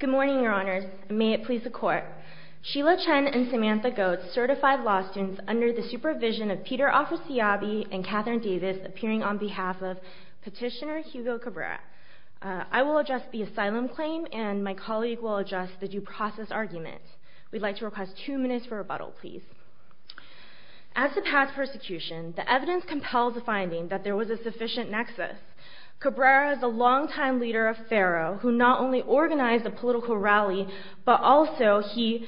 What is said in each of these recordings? Good morning, Your Honors. May it please the Court. Sheila Chen and Samantha Goetz, certified law students under the supervision of Peter Ofisiabi and Catherine Davis, appearing on behalf of Petitioner Hugo Cabrera. I will address the asylum claim and my colleague will address the due process argument. We'd like to request two minutes for rebuttal, please. As to past persecution, the evidence compels the finding that there was a sufficient nexus. Cabrera is a long-time leader of Faro, who not only organized a political rally, but also he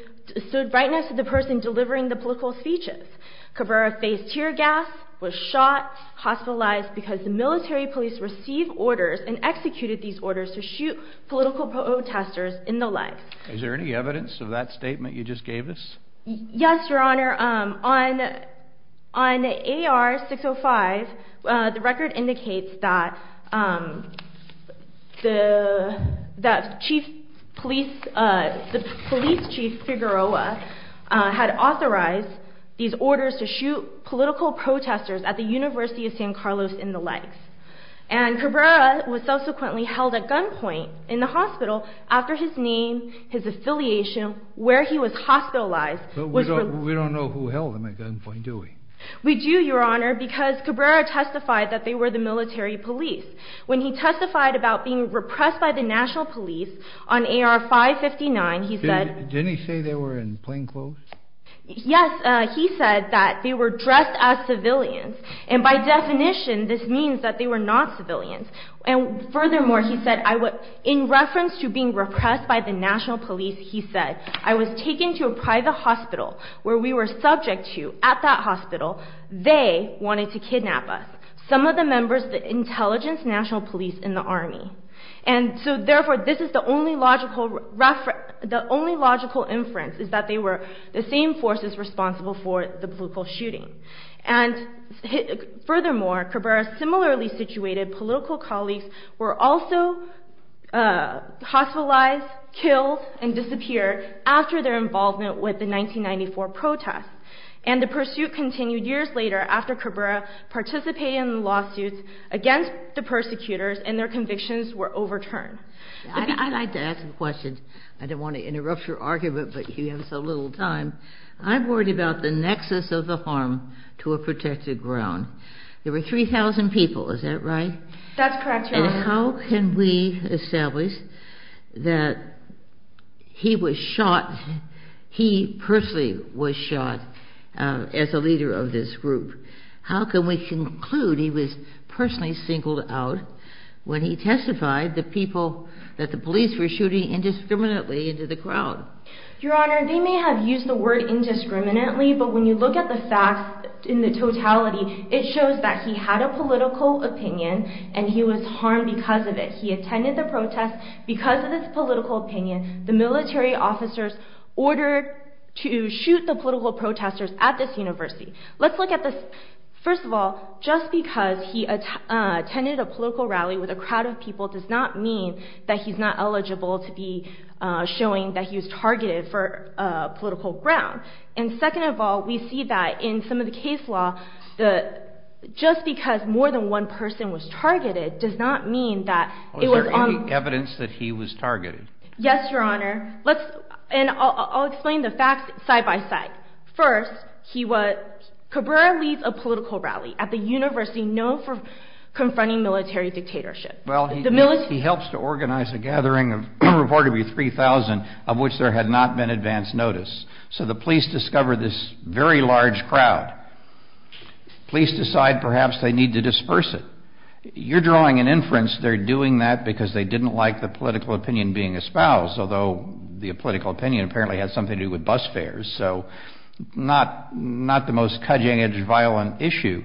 stood right next to the person delivering the political speeches. Cabrera faced tear gas, was shot, hospitalized because the military police received orders and executed these orders to shoot political protesters in the legs. Is there any evidence of that statement you provide? The record indicates that the police chief, Figueroa, had authorized these orders to shoot political protesters at the University of San Carlos in the legs. And Cabrera was subsequently held at gunpoint in the hospital after his name, his affiliation, where he was hospitalized... But we don't know who held him at gunpoint, do we? We do, Your Honor, because Cabrera testified that they were the military police. When he testified about being repressed by the national police on AR-559, he said... Didn't he say they were in plainclothes? Yes, he said that they were dressed as civilians. And by definition, this means that they were not civilians. And furthermore, he said, in reference to being repressed by the national police, he said, I was taken to a private hospital where we were subject to, at that hospital, they wanted to kidnap us, some of the members of the Intelligence National Police in the Army. And so, therefore, this is the only logical inference, is that they were the same forces responsible for the political shooting. And furthermore, Cabrera's similarly situated political colleagues were also hospitalized, killed, and disappeared after their involvement with the 1994 protests. And the pursuit continued years later after Cabrera participated in the lawsuits against the persecutors, and their convictions were overturned. I'd like to ask a question. I don't want to interrupt your argument, but you have so little time. I'm worried about the nexus of the harm to a protected ground. There were 3,000 people, is that right? That's correct, Your Honor. And how can we establish that he was shot, he personally was shot, as a leader of this group? How can we conclude he was personally singled out when he testified that the police were shooting indiscriminately into the crowd? Your Honor, they may have used the word indiscriminately, but when you look at the facts in the totality, it shows that he had a political opinion, and he was shot. Because of this political opinion, the military officers ordered to shoot the political protesters at this university. Let's look at this. First of all, just because he attended a political rally with a crowd of people does not mean that he's not eligible to be showing that he was targeted for political ground. And second of all, we see that in some of the case law, just because more than one person was targeted does not mean that it was on evidence that he was targeted. Yes, Your Honor. Let's, and I'll explain the facts side by side. First, he was, Cabrera leads a political rally at the university known for confronting military dictatorship. Well, he helps to organize a gathering of reportedly 3,000, of which there had not been advance notice. So the police discover this very large crowd. Police decide perhaps they need to disperse it. You're drawing an inference they're doing that because they didn't like the political opinion being espoused, although the political opinion apparently had something to do with bus fares. So not, not the most cutting edge violent issue.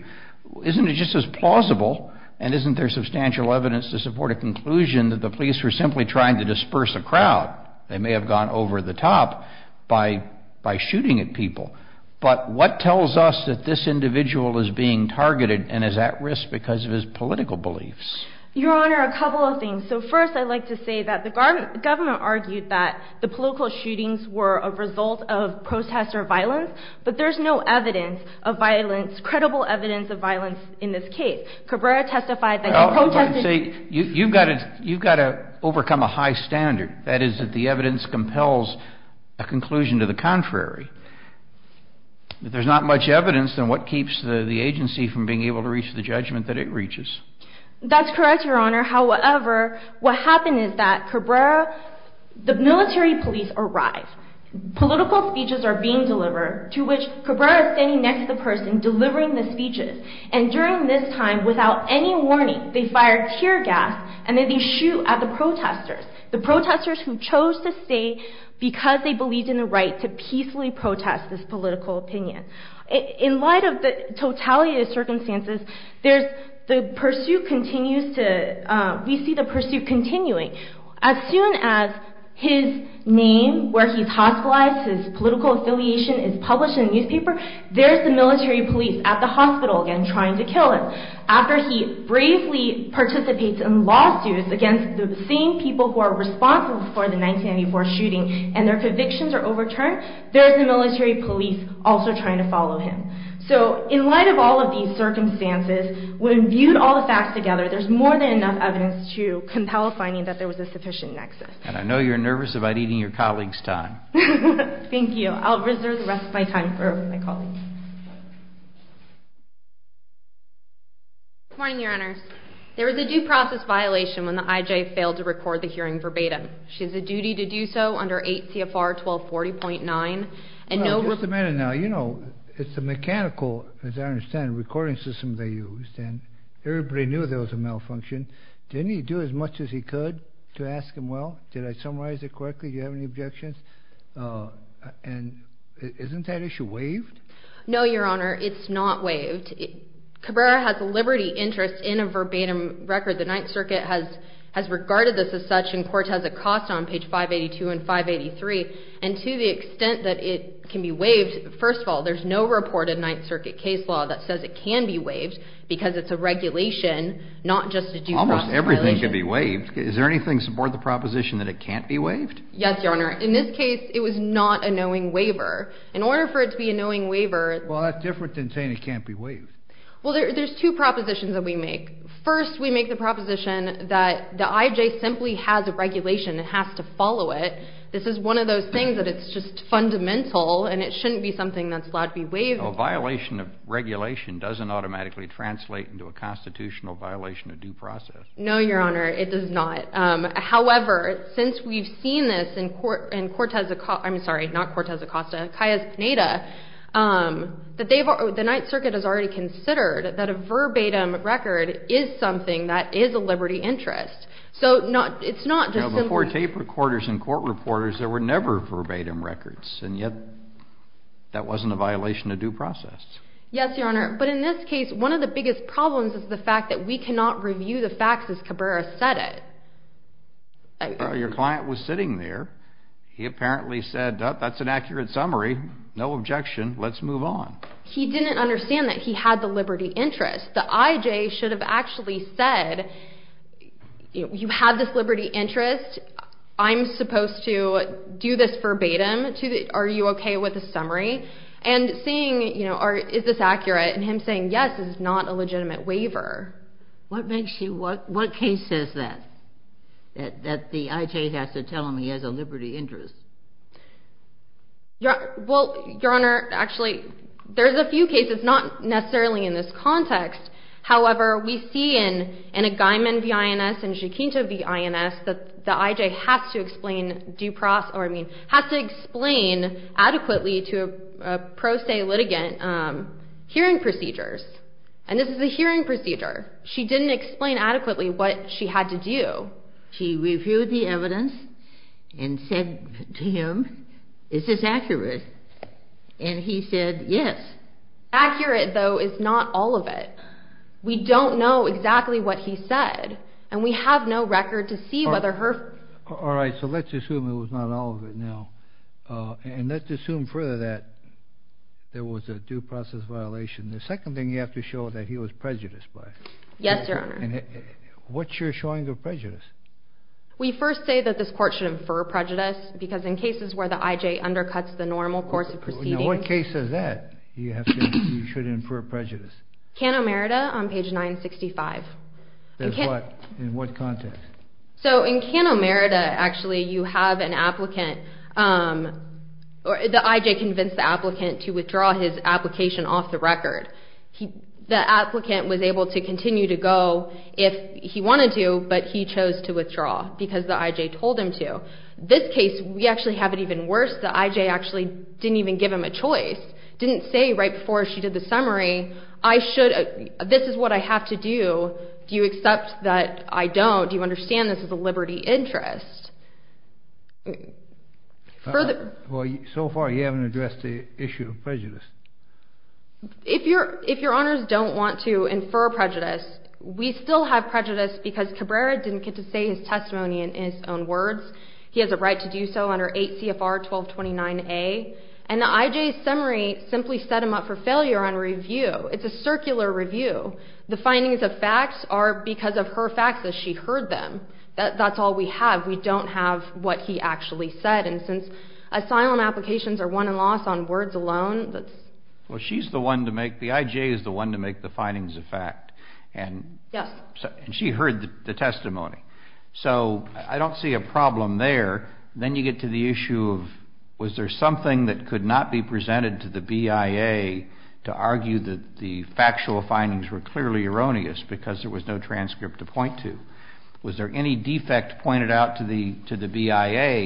Isn't it just as plausible? And isn't there substantial evidence to support a conclusion that the police were simply trying to disperse a crowd? They may have gone over the top by, by shooting at people. But what tells us that this individual is being targeted and is at risk because of his political beliefs? Your Honor, a couple of things. So first, I'd like to say that the government, government argued that the political shootings were a result of protest or violence, but there's no evidence of violence, credible evidence of violence in this case. Cabrera testified that he protested. You, you've got to, you've got to overcome a high standard. That is that the evidence compels a conclusion to the contrary. There's not much evidence. Then what keeps the agency from being able to reach the judgment that it reaches? That's correct, Your Honor. However, what happened is that Cabrera, the military police arrived, political speeches are being delivered to which Cabrera standing next to the person delivering the speeches. And during this time, without any warning, they fired tear gas and then they shoot at the protesters, the protesters who chose to stay because they believed in the right to peacefully protest this political opinion. In light of the totality of the circumstances, there's, the pursuit continues to, we see the pursuit continuing. As soon as his name, where he's hospitalized, his political affiliation is published in the newspaper, there's the military police at the hospital again trying to kill him. After he bravely participates in lawsuits against the same people who are responsible for the 1994 shooting and their convictions are overturned, there's the military police also trying to follow him. So in light of all of these circumstances, when viewed all the facts together, there's more than enough evidence to compel a finding that there was a sufficient nexus. And I know you're nervous about eating your colleagues' time. Thank you. I'll reserve the rest of my time for my colleagues. Good morning, Your Honors. There was a due process violation when the IJ failed to record the hearing verbatim. She has a duty to do so under 8 CFR 1240.9. Just a minute now. You know, it's the mechanical, as I understand, recording system they used and everybody knew there was a malfunction. Didn't he do as much as he could to ask him, well, did I summarize it correctly? Do you have any objections? And isn't that issue waived? No, Your Honor, it's not waived. Cabrera has a liberty interest in a verbatim record. The Ninth Circuit has regarded this as such and court has a cost on page 582 and 583. And to the extent that it can be waived, first of all, there's no reported Ninth Circuit case law that says it can be waived because it's a regulation, not just a due process violation. Almost everything can be waived. Is there anything to support the proposition that it can't be waived? Yes, Your Honor. In this case, it was not a knowing waiver. In order for it to be a knowing waiver... Well, that's different than saying it can't be waived. Well, there's two propositions that we make. First, we make the proposition that the IJ simply has a regulation and has to follow it. This is one of those things that it's just fundamental and it shouldn't be something that's allowed to be waived. A violation of regulation doesn't automatically translate into a constitutional violation of due process. No, Your Honor, it does not. However, since we've seen this in Cortez Acosta, I'm sorry, not Cortez Acosta, Calles Pineda, the Ninth Circuit has already considered that a verbatim record is something that is a liberty interest. So it's not just... Before tape recorders and court reporters, there were never verbatim records and yet that wasn't a violation of due process. Yes, Your Honor. But in this case, one of the biggest problems is the fact that we cannot review the facts as Cabrera said it. Your client was sitting there. He apparently said, that's an accurate summary. No objection. Let's move on. He didn't understand that he had the liberty interest. The IJ should have actually said, you have this liberty interest. I'm supposed to do this verbatim. Are you okay with the summary? And saying, is this accurate? And what makes you... What case says that? That the IJ has to tell him he has a liberty interest? Well, Your Honor, actually, there's a few cases, not necessarily in this context. However, we see in Agaiman v. INS and Jacinto v. INS, that the IJ has to explain due process, or I mean, has to explain adequately to a pro se litigant hearing procedures. And this is a hearing procedure. She didn't explain adequately what she had to do. She reviewed the evidence and said to him, is this accurate? And he said, yes. Accurate, though, is not all of it. We don't know exactly what he said. And we have no record to see whether her... All right, so let's assume it was not all of it now. And let's assume further that there was a due process violation. The second thing you have to show that he was prejudiced by. Yes, Your Honor. And what's your showing of prejudice? We first say that this court should infer prejudice, because in cases where the IJ undercuts the normal course of proceedings... Now, what case says that? You have to... You should infer prejudice. Canomerida on page 965. In what context? So, in Canomerida, actually, you have an applicant... The IJ convinced the applicant to withdraw his application off the record. The applicant was able to continue to go if he wanted to, but he chose to withdraw, because the IJ told him to. This case, we actually have it even worse. The IJ actually didn't even give him a choice. Didn't say right before she did the summary, I should... This is what I have to do. Do you accept that I don't? Do you understand this is a liberty interest? Further... Well, so far, you haven't addressed the issue of prejudice. If Your Honors don't want to infer prejudice, we still have prejudice, because Cabrera didn't get to say his testimony in his own words. He has a right to do so under 8 CFR 1229A. And the IJ's summary simply set him up for failure on review. It's a circular review. The findings of facts are because of her facts that she heard them. That's all we have. We don't have what he actually said. And since asylum applications are won and lost on words alone, that's... Well, she's the one to make... The IJ is the one to make the findings of fact. And... Yes. And she heard the testimony. So I don't see a problem there. Then you get to the issue of, was there something that could not be presented to the BIA to argue that the factual findings were clearly erroneous, because there was no transcript to point to? Was there any defect pointed out to the BIA,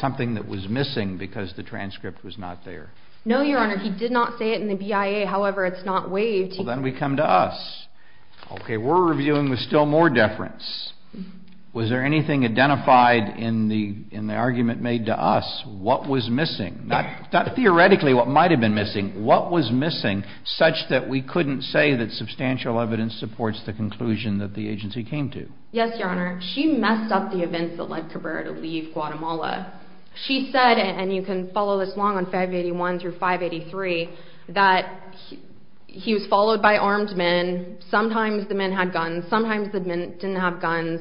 something that was missing because the transcript was not there? No, Your Honor. He did not say it in the BIA. However, it's not waived. Well, then we come to us. Okay. We're reviewing with still more deference. Was there anything identified in the argument made to us? What was missing? Not theoretically what might have been missing. What was missing such that we couldn't say that substantial evidence supports the conclusion that the agency came to? Yes, Your Honor. She messed up the events that led Cabrera to leave Guatemala. She said, and you can follow this along on 581 through 583, that he was followed by armed men. Sometimes the men had guns. Sometimes the men didn't have guns.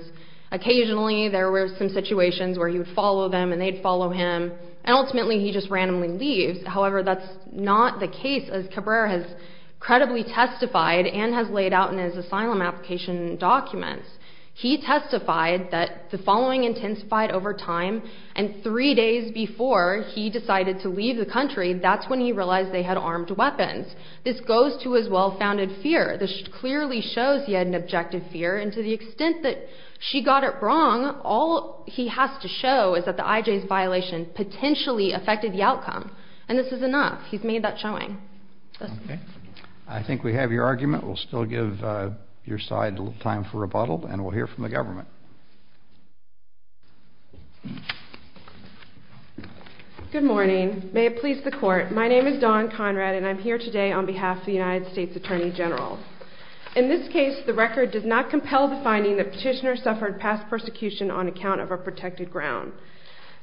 Occasionally, there were some situations where he would follow them and they'd follow him. And ultimately, he just randomly leaves. However, that's not the case as Cabrera has incredibly testified and has laid out in his asylum application documents. He testified that the following intensified over time. And three days before he decided to leave the country, that's when he realized they had armed weapons. This goes to his well-founded fear. This clearly shows he had an objective fear. And to the extent that she got it wrong, all he has to show is that the IJ's violation potentially affected the outcome. And this is enough. He's made that showing. Okay. I think we have your argument. We'll still give your side a little time for rebuttal, and we'll hear from the government. Good morning. May it please the Court. My name is Dawn Conrad, and I'm here today on behalf of the United States Attorney General. In this case, the record does not compel the finding that Petitioner suffered past persecution on account of a protected ground.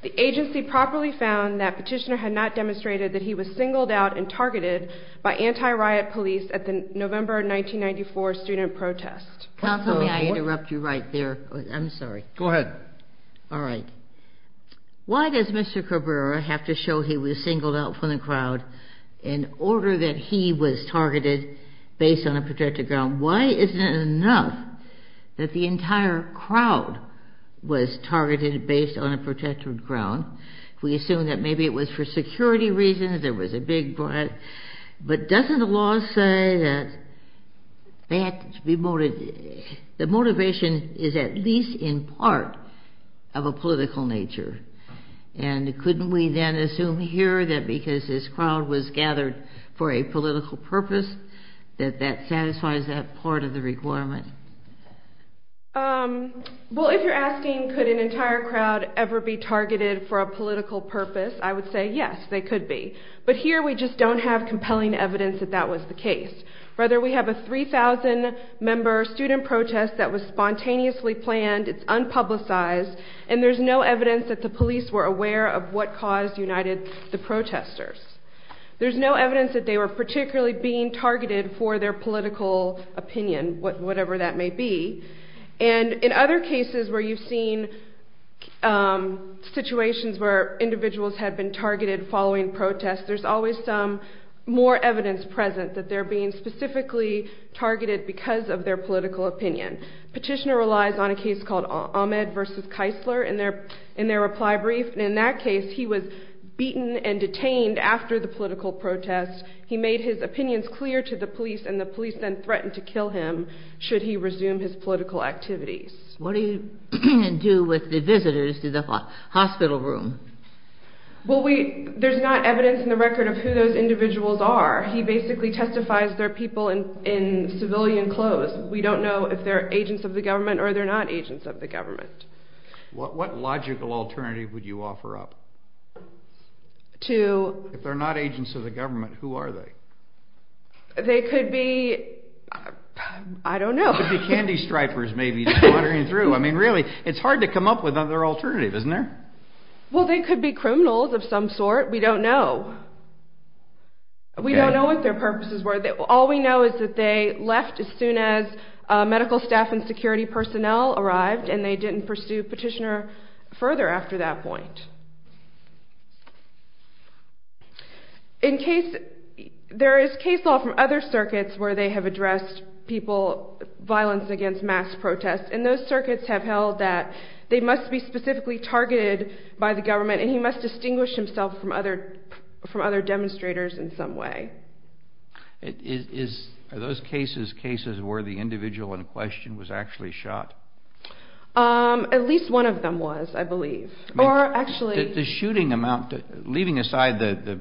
The agency properly found that Petitioner had not demonstrated that he was singled out and targeted by anti-riot police at the November 1994 student protest. Counsel, may I interrupt you right there? I'm sorry. Go ahead. All right. Why does Mr. Cabrera have to show he was singled out from the crowd in order that he was targeted based on a protected ground? Why isn't it enough that the entire crowd was targeted based on a protected ground? We assume that maybe it was for security reasons, there was a big riot. But doesn't the law say that the motivation is at least in part of a political nature? And couldn't we then assume here that because his crowd was gathered for a political purpose, that that satisfies that part of the requirement? Well, if you're asking could an entire crowd ever be targeted for a political purpose, I would say yes, they could be. But here, we just don't have compelling evidence that that was the case. Rather, we have a 3,000-member student protest that was spontaneously planned, it's unpublicized, and there's no evidence that the police were aware of what caused United the protesters. There's no evidence that they were particularly being targeted for their political opinion, whatever that may be. And in other cases where you've seen situations where individuals have been targeted following protests, there's always some more evidence present that they're being specifically targeted because of their political opinion. Petitioner relies on a case called Ahmed versus Keisler in their reply brief, and in that he's beaten and detained after the political protest. He made his opinions clear to the police, and the police then threatened to kill him should he resume his political activities. What do you do with the visitors to the hospital room? Well, there's not evidence in the record of who those individuals are. He basically testifies they're people in civilian clothes. We don't know if they're agents of the government or they're not agents of the government. What logical alternative would you offer up? If they're not agents of the government, who are they? They could be... I don't know. They could be candy stripers maybe, just wandering through. I mean, really, it's hard to come up with another alternative, isn't there? Well, they could be criminals of some sort. We don't know. We don't know what their purposes were. All we know is that they left as soon as medical staff and security personnel arrived, and they didn't pursue Petitioner further after that point. There is case law from other circuits where they have addressed people's violence against mass protests, and those circuits have held that they must be specifically targeted by the government, and he must distinguish himself from other demonstrators in some way. Are those cases cases where the individual in question was actually shot? At least one of them was, I believe. Leaving aside the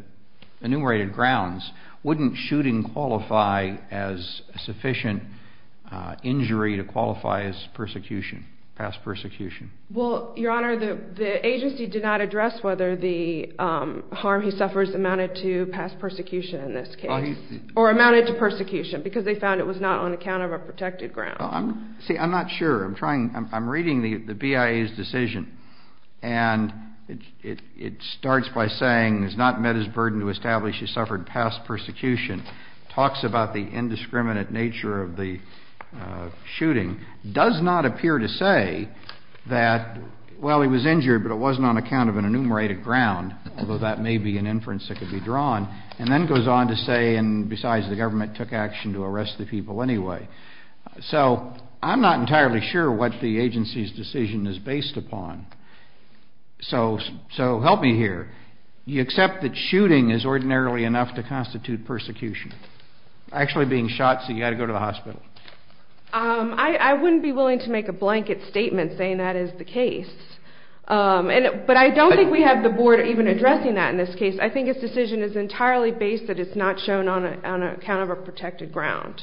enumerated grounds, wouldn't shooting qualify as sufficient injury to qualify as persecution, past persecution? Well, Your Honor, the agency did not address whether the harm he suffers amounted to past persecution in this case, or amounted to persecution, because they found it was not on account of a protected ground. See, I'm not sure. I'm reading the BIA's decision, and it starts by saying, has not met his burden to establish he suffered past persecution. Talks about the indiscriminate nature of the shooting. Does not appear to say that, well, he was injured, but it wasn't on account of an enumerated ground, although that may be an inference that could be drawn. And then goes on to say, and besides, the government took action to arrest the people anyway. So I'm not entirely sure what the agency's decision is based upon. So help me here. You accept that shooting is ordinarily enough to constitute persecution? Actually being shot, so you've got to go to the hospital. I wouldn't be willing to make a blanket statement saying that is the case. But I don't think we have the Board even addressing that in this case. I think its decision is entirely based that it's not shown on account of a protected ground.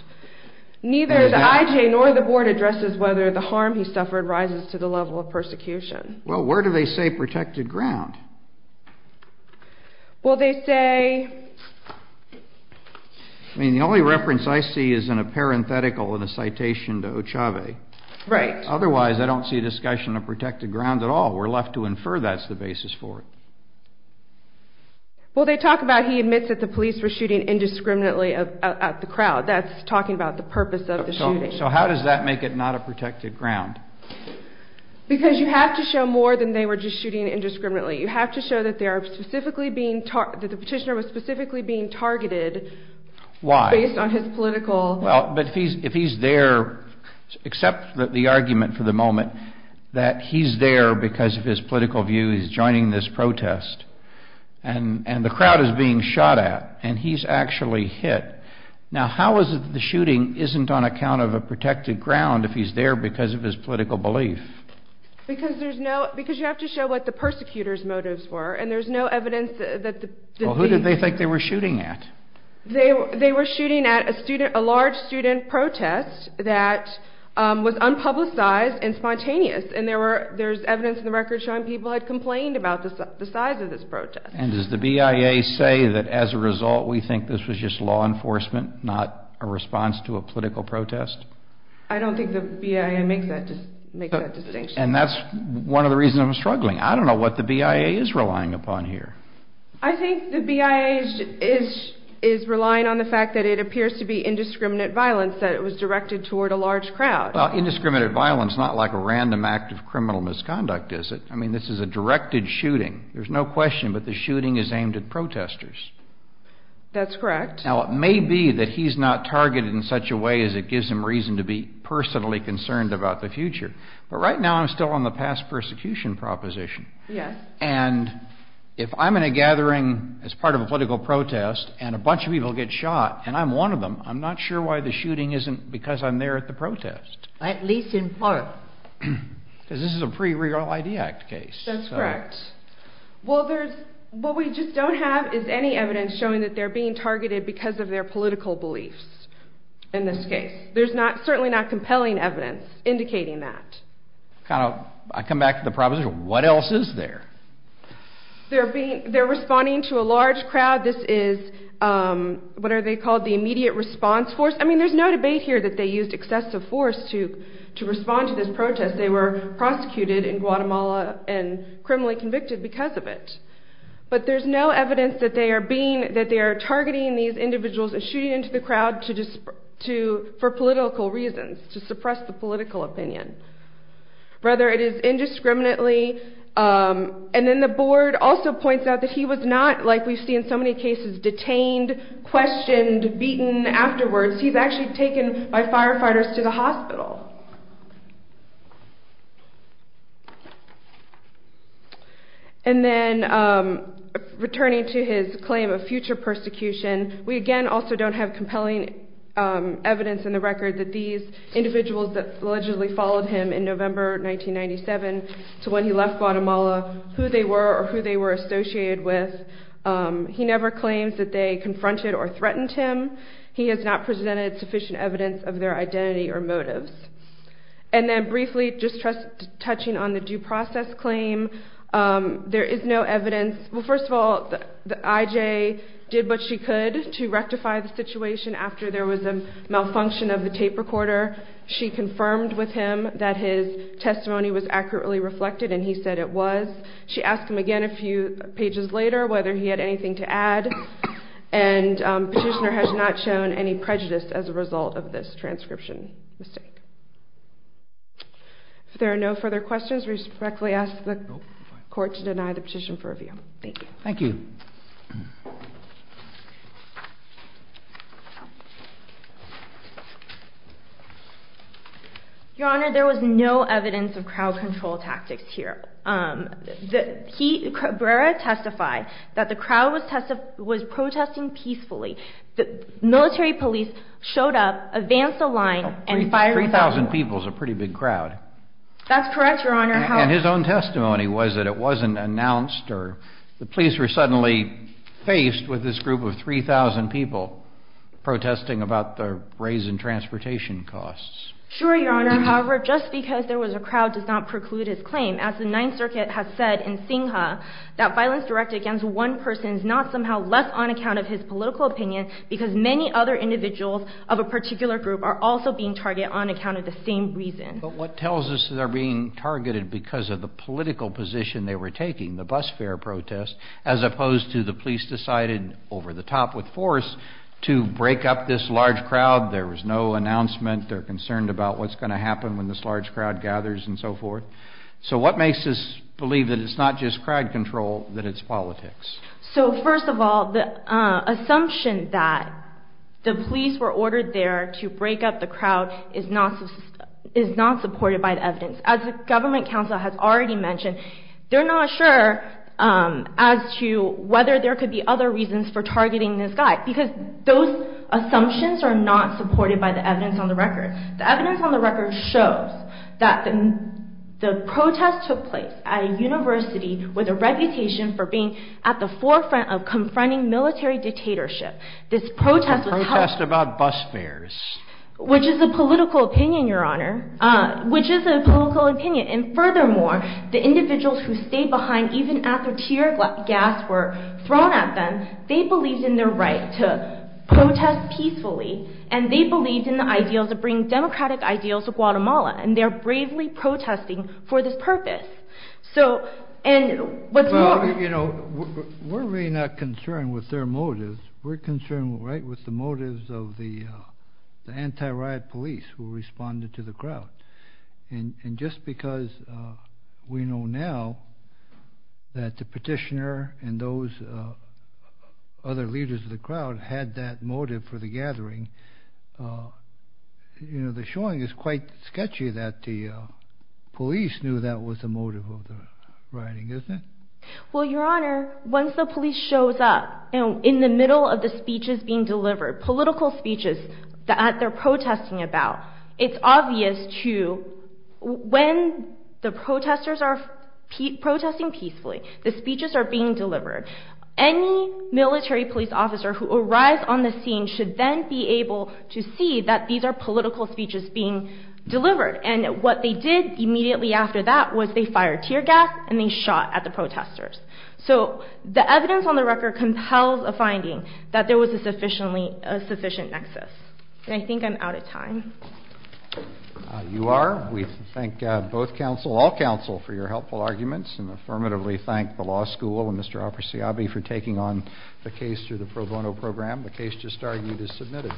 Neither the IJ nor the Board addresses whether the harm he suffered rises to the level of persecution. Well, where do they say protected ground? Well, they say... I mean, the only reference I see is in a parenthetical in a citation to Ochave. Right. Otherwise, I don't see a discussion of protected ground at all. We're left to infer that's the basis for it. Well, they talk about he admits that the police were shooting indiscriminately at the crowd. That's talking about the purpose of the shooting. So how does that make it not a protected ground? Because you have to show more than they were just shooting indiscriminately. You have to show that the petitioner was specifically being targeted... Why? ...based on his political... Well, but if he's there... ...and the crowd is being shot at, and he's actually hit, now how is it that the shooting isn't on account of a protected ground if he's there because of his political belief? Because you have to show what the persecutors' motives were, and there's no evidence that the... Well, who did they think they were shooting at? They were shooting at a large student protest that was unpublicized and spontaneous, and there's evidence in the record showing people had complained about the size of this protest. And does the BIA say that as a result we think this was just law enforcement, not a response to a political protest? I don't think the BIA makes that distinction. And that's one of the reasons I'm struggling. I don't know what the BIA is relying upon here. I think the BIA is relying on the fact that it appears to be indiscriminate violence, that it was directed toward a large crowd. Well, indiscriminate violence is not like a random act of criminal misconduct, is it? I mean, this is a directed shooting. There's no question, but the shooting is aimed at protesters. That's correct. Now, it may be that he's not targeted in such a way as it gives him reason to be personally concerned about the future, but right now I'm still on the past persecution proposition. And if I'm in a gathering as part of a political protest, and a bunch of people get shot, and I'm one of them, I'm not sure why the shooting isn't because I'm there at the protest. At least in part. Because this is a pre-real ID Act case. That's correct. Well, what we just don't have is any evidence showing that they're being targeted because of their political beliefs in this case. There's certainly not compelling evidence indicating that. I come back to the proposition, what else is there? They're responding to a large crowd. This is, what are they called, the immediate response force. I mean, there's no debate here that they used excessive force to respond to this protest. They were prosecuted in Guatemala and criminally convicted because of it. But there's no evidence that they are targeting these individuals and shooting into the crowd for political reasons, to suppress the political opinion. Rather, it is indiscriminately. And then the board also points out that he was not, like we see in so many cases, detained, questioned, beaten afterwards. He's actually taken by firefighters to the hospital. And then, returning to his claim of future persecution, we again also don't have compelling evidence in the record that these individuals that allegedly followed him in November 1997 to when he left Guatemala, who they were or who they were associated with. He never claims that they confronted or threatened him. He has not presented sufficient evidence of their identity or motives. And then briefly, just touching on the due process claim, there is no evidence. Well, first of all, the IJ did what she could to rectify the situation after there was a malfunction of the tape recorder. She confirmed with him that his testimony was accurately reflected, and he said it was. She asked him again a few pages later whether he had anything to add. And Petitioner has not shown any prejudice as a result of this transcription mistake. If there are no further questions, we respectfully ask the court to deny the petition for review. Thank you. Thank you. Your Honor, there was no evidence of crowd control tactics here. Barrera testified that the crowd was protesting peacefully. Military police showed up, advanced the line, and fired— Three thousand people is a pretty big crowd. That's correct, Your Honor. And his own testimony was that it wasn't announced or the police were suddenly faced with this group of three thousand people protesting about the raise in transportation costs. Sure, Your Honor. However, just because there was a crowd does not preclude his claim. As the Ninth Circuit has said in Singha, that violence directed against one person is not somehow less on account of his political opinion because many other individuals of a particular group are also being targeted on account of the same reason. But what tells us they're being targeted because of the political position they were taking, the bus fare protest, as opposed to the police decided, over the top with force, to break up this large crowd. There was no announcement. They're concerned about what's going to happen when this large crowd gathers and so forth. So what makes us believe that it's not just crowd control, that it's politics? So, first of all, the assumption that the police were ordered there to break up the crowd is not supported by the evidence. As the Government Council has already mentioned, they're not sure as to whether there could be other reasons for targeting this guy because those assumptions are not supported by the evidence on the record. The evidence on the record shows that the protest took place at a university with a reputation for being at the forefront of confronting military dictatorship. This protest was held... A protest about bus fares. Which is a political opinion, Your Honor. Which is a political opinion. And furthermore, the individuals who stayed behind even after tear gas were thrown at them, they believed in their right to protest peacefully and they believed in the ideals of bringing democratic ideals to Guatemala. And they're bravely protesting for this purpose. So, and what's more... Well, you know, we're really not concerned with their motives. We're concerned, right, with the motives of the anti-riot police who responded to the crowd. And just because we know now that the petitioner and those other leaders of the crowd had that motive for the gathering, you know, the showing is quite sketchy that the police knew that was the motive of the rioting, isn't it? Well, Your Honor, once the police shows up, you know, in the middle of the speeches being delivered, political speeches that they're protesting about, it's obvious to, when the protesters are protesting peacefully, the speeches are being delivered. Any military police officer who arrives on the scene should then be able to see that these are political speeches being delivered. And what they did immediately after that was they fired tear gas and they shot at the protesters. So the evidence on the record compels a finding that there was a sufficient nexus. And I think I'm out of time. You are. We thank both counsel, all counsel, for your helpful arguments and affirmatively thank the law school and Mr. Al-Persiabi for taking on the case through the pro bono program. The case just argued is submitted.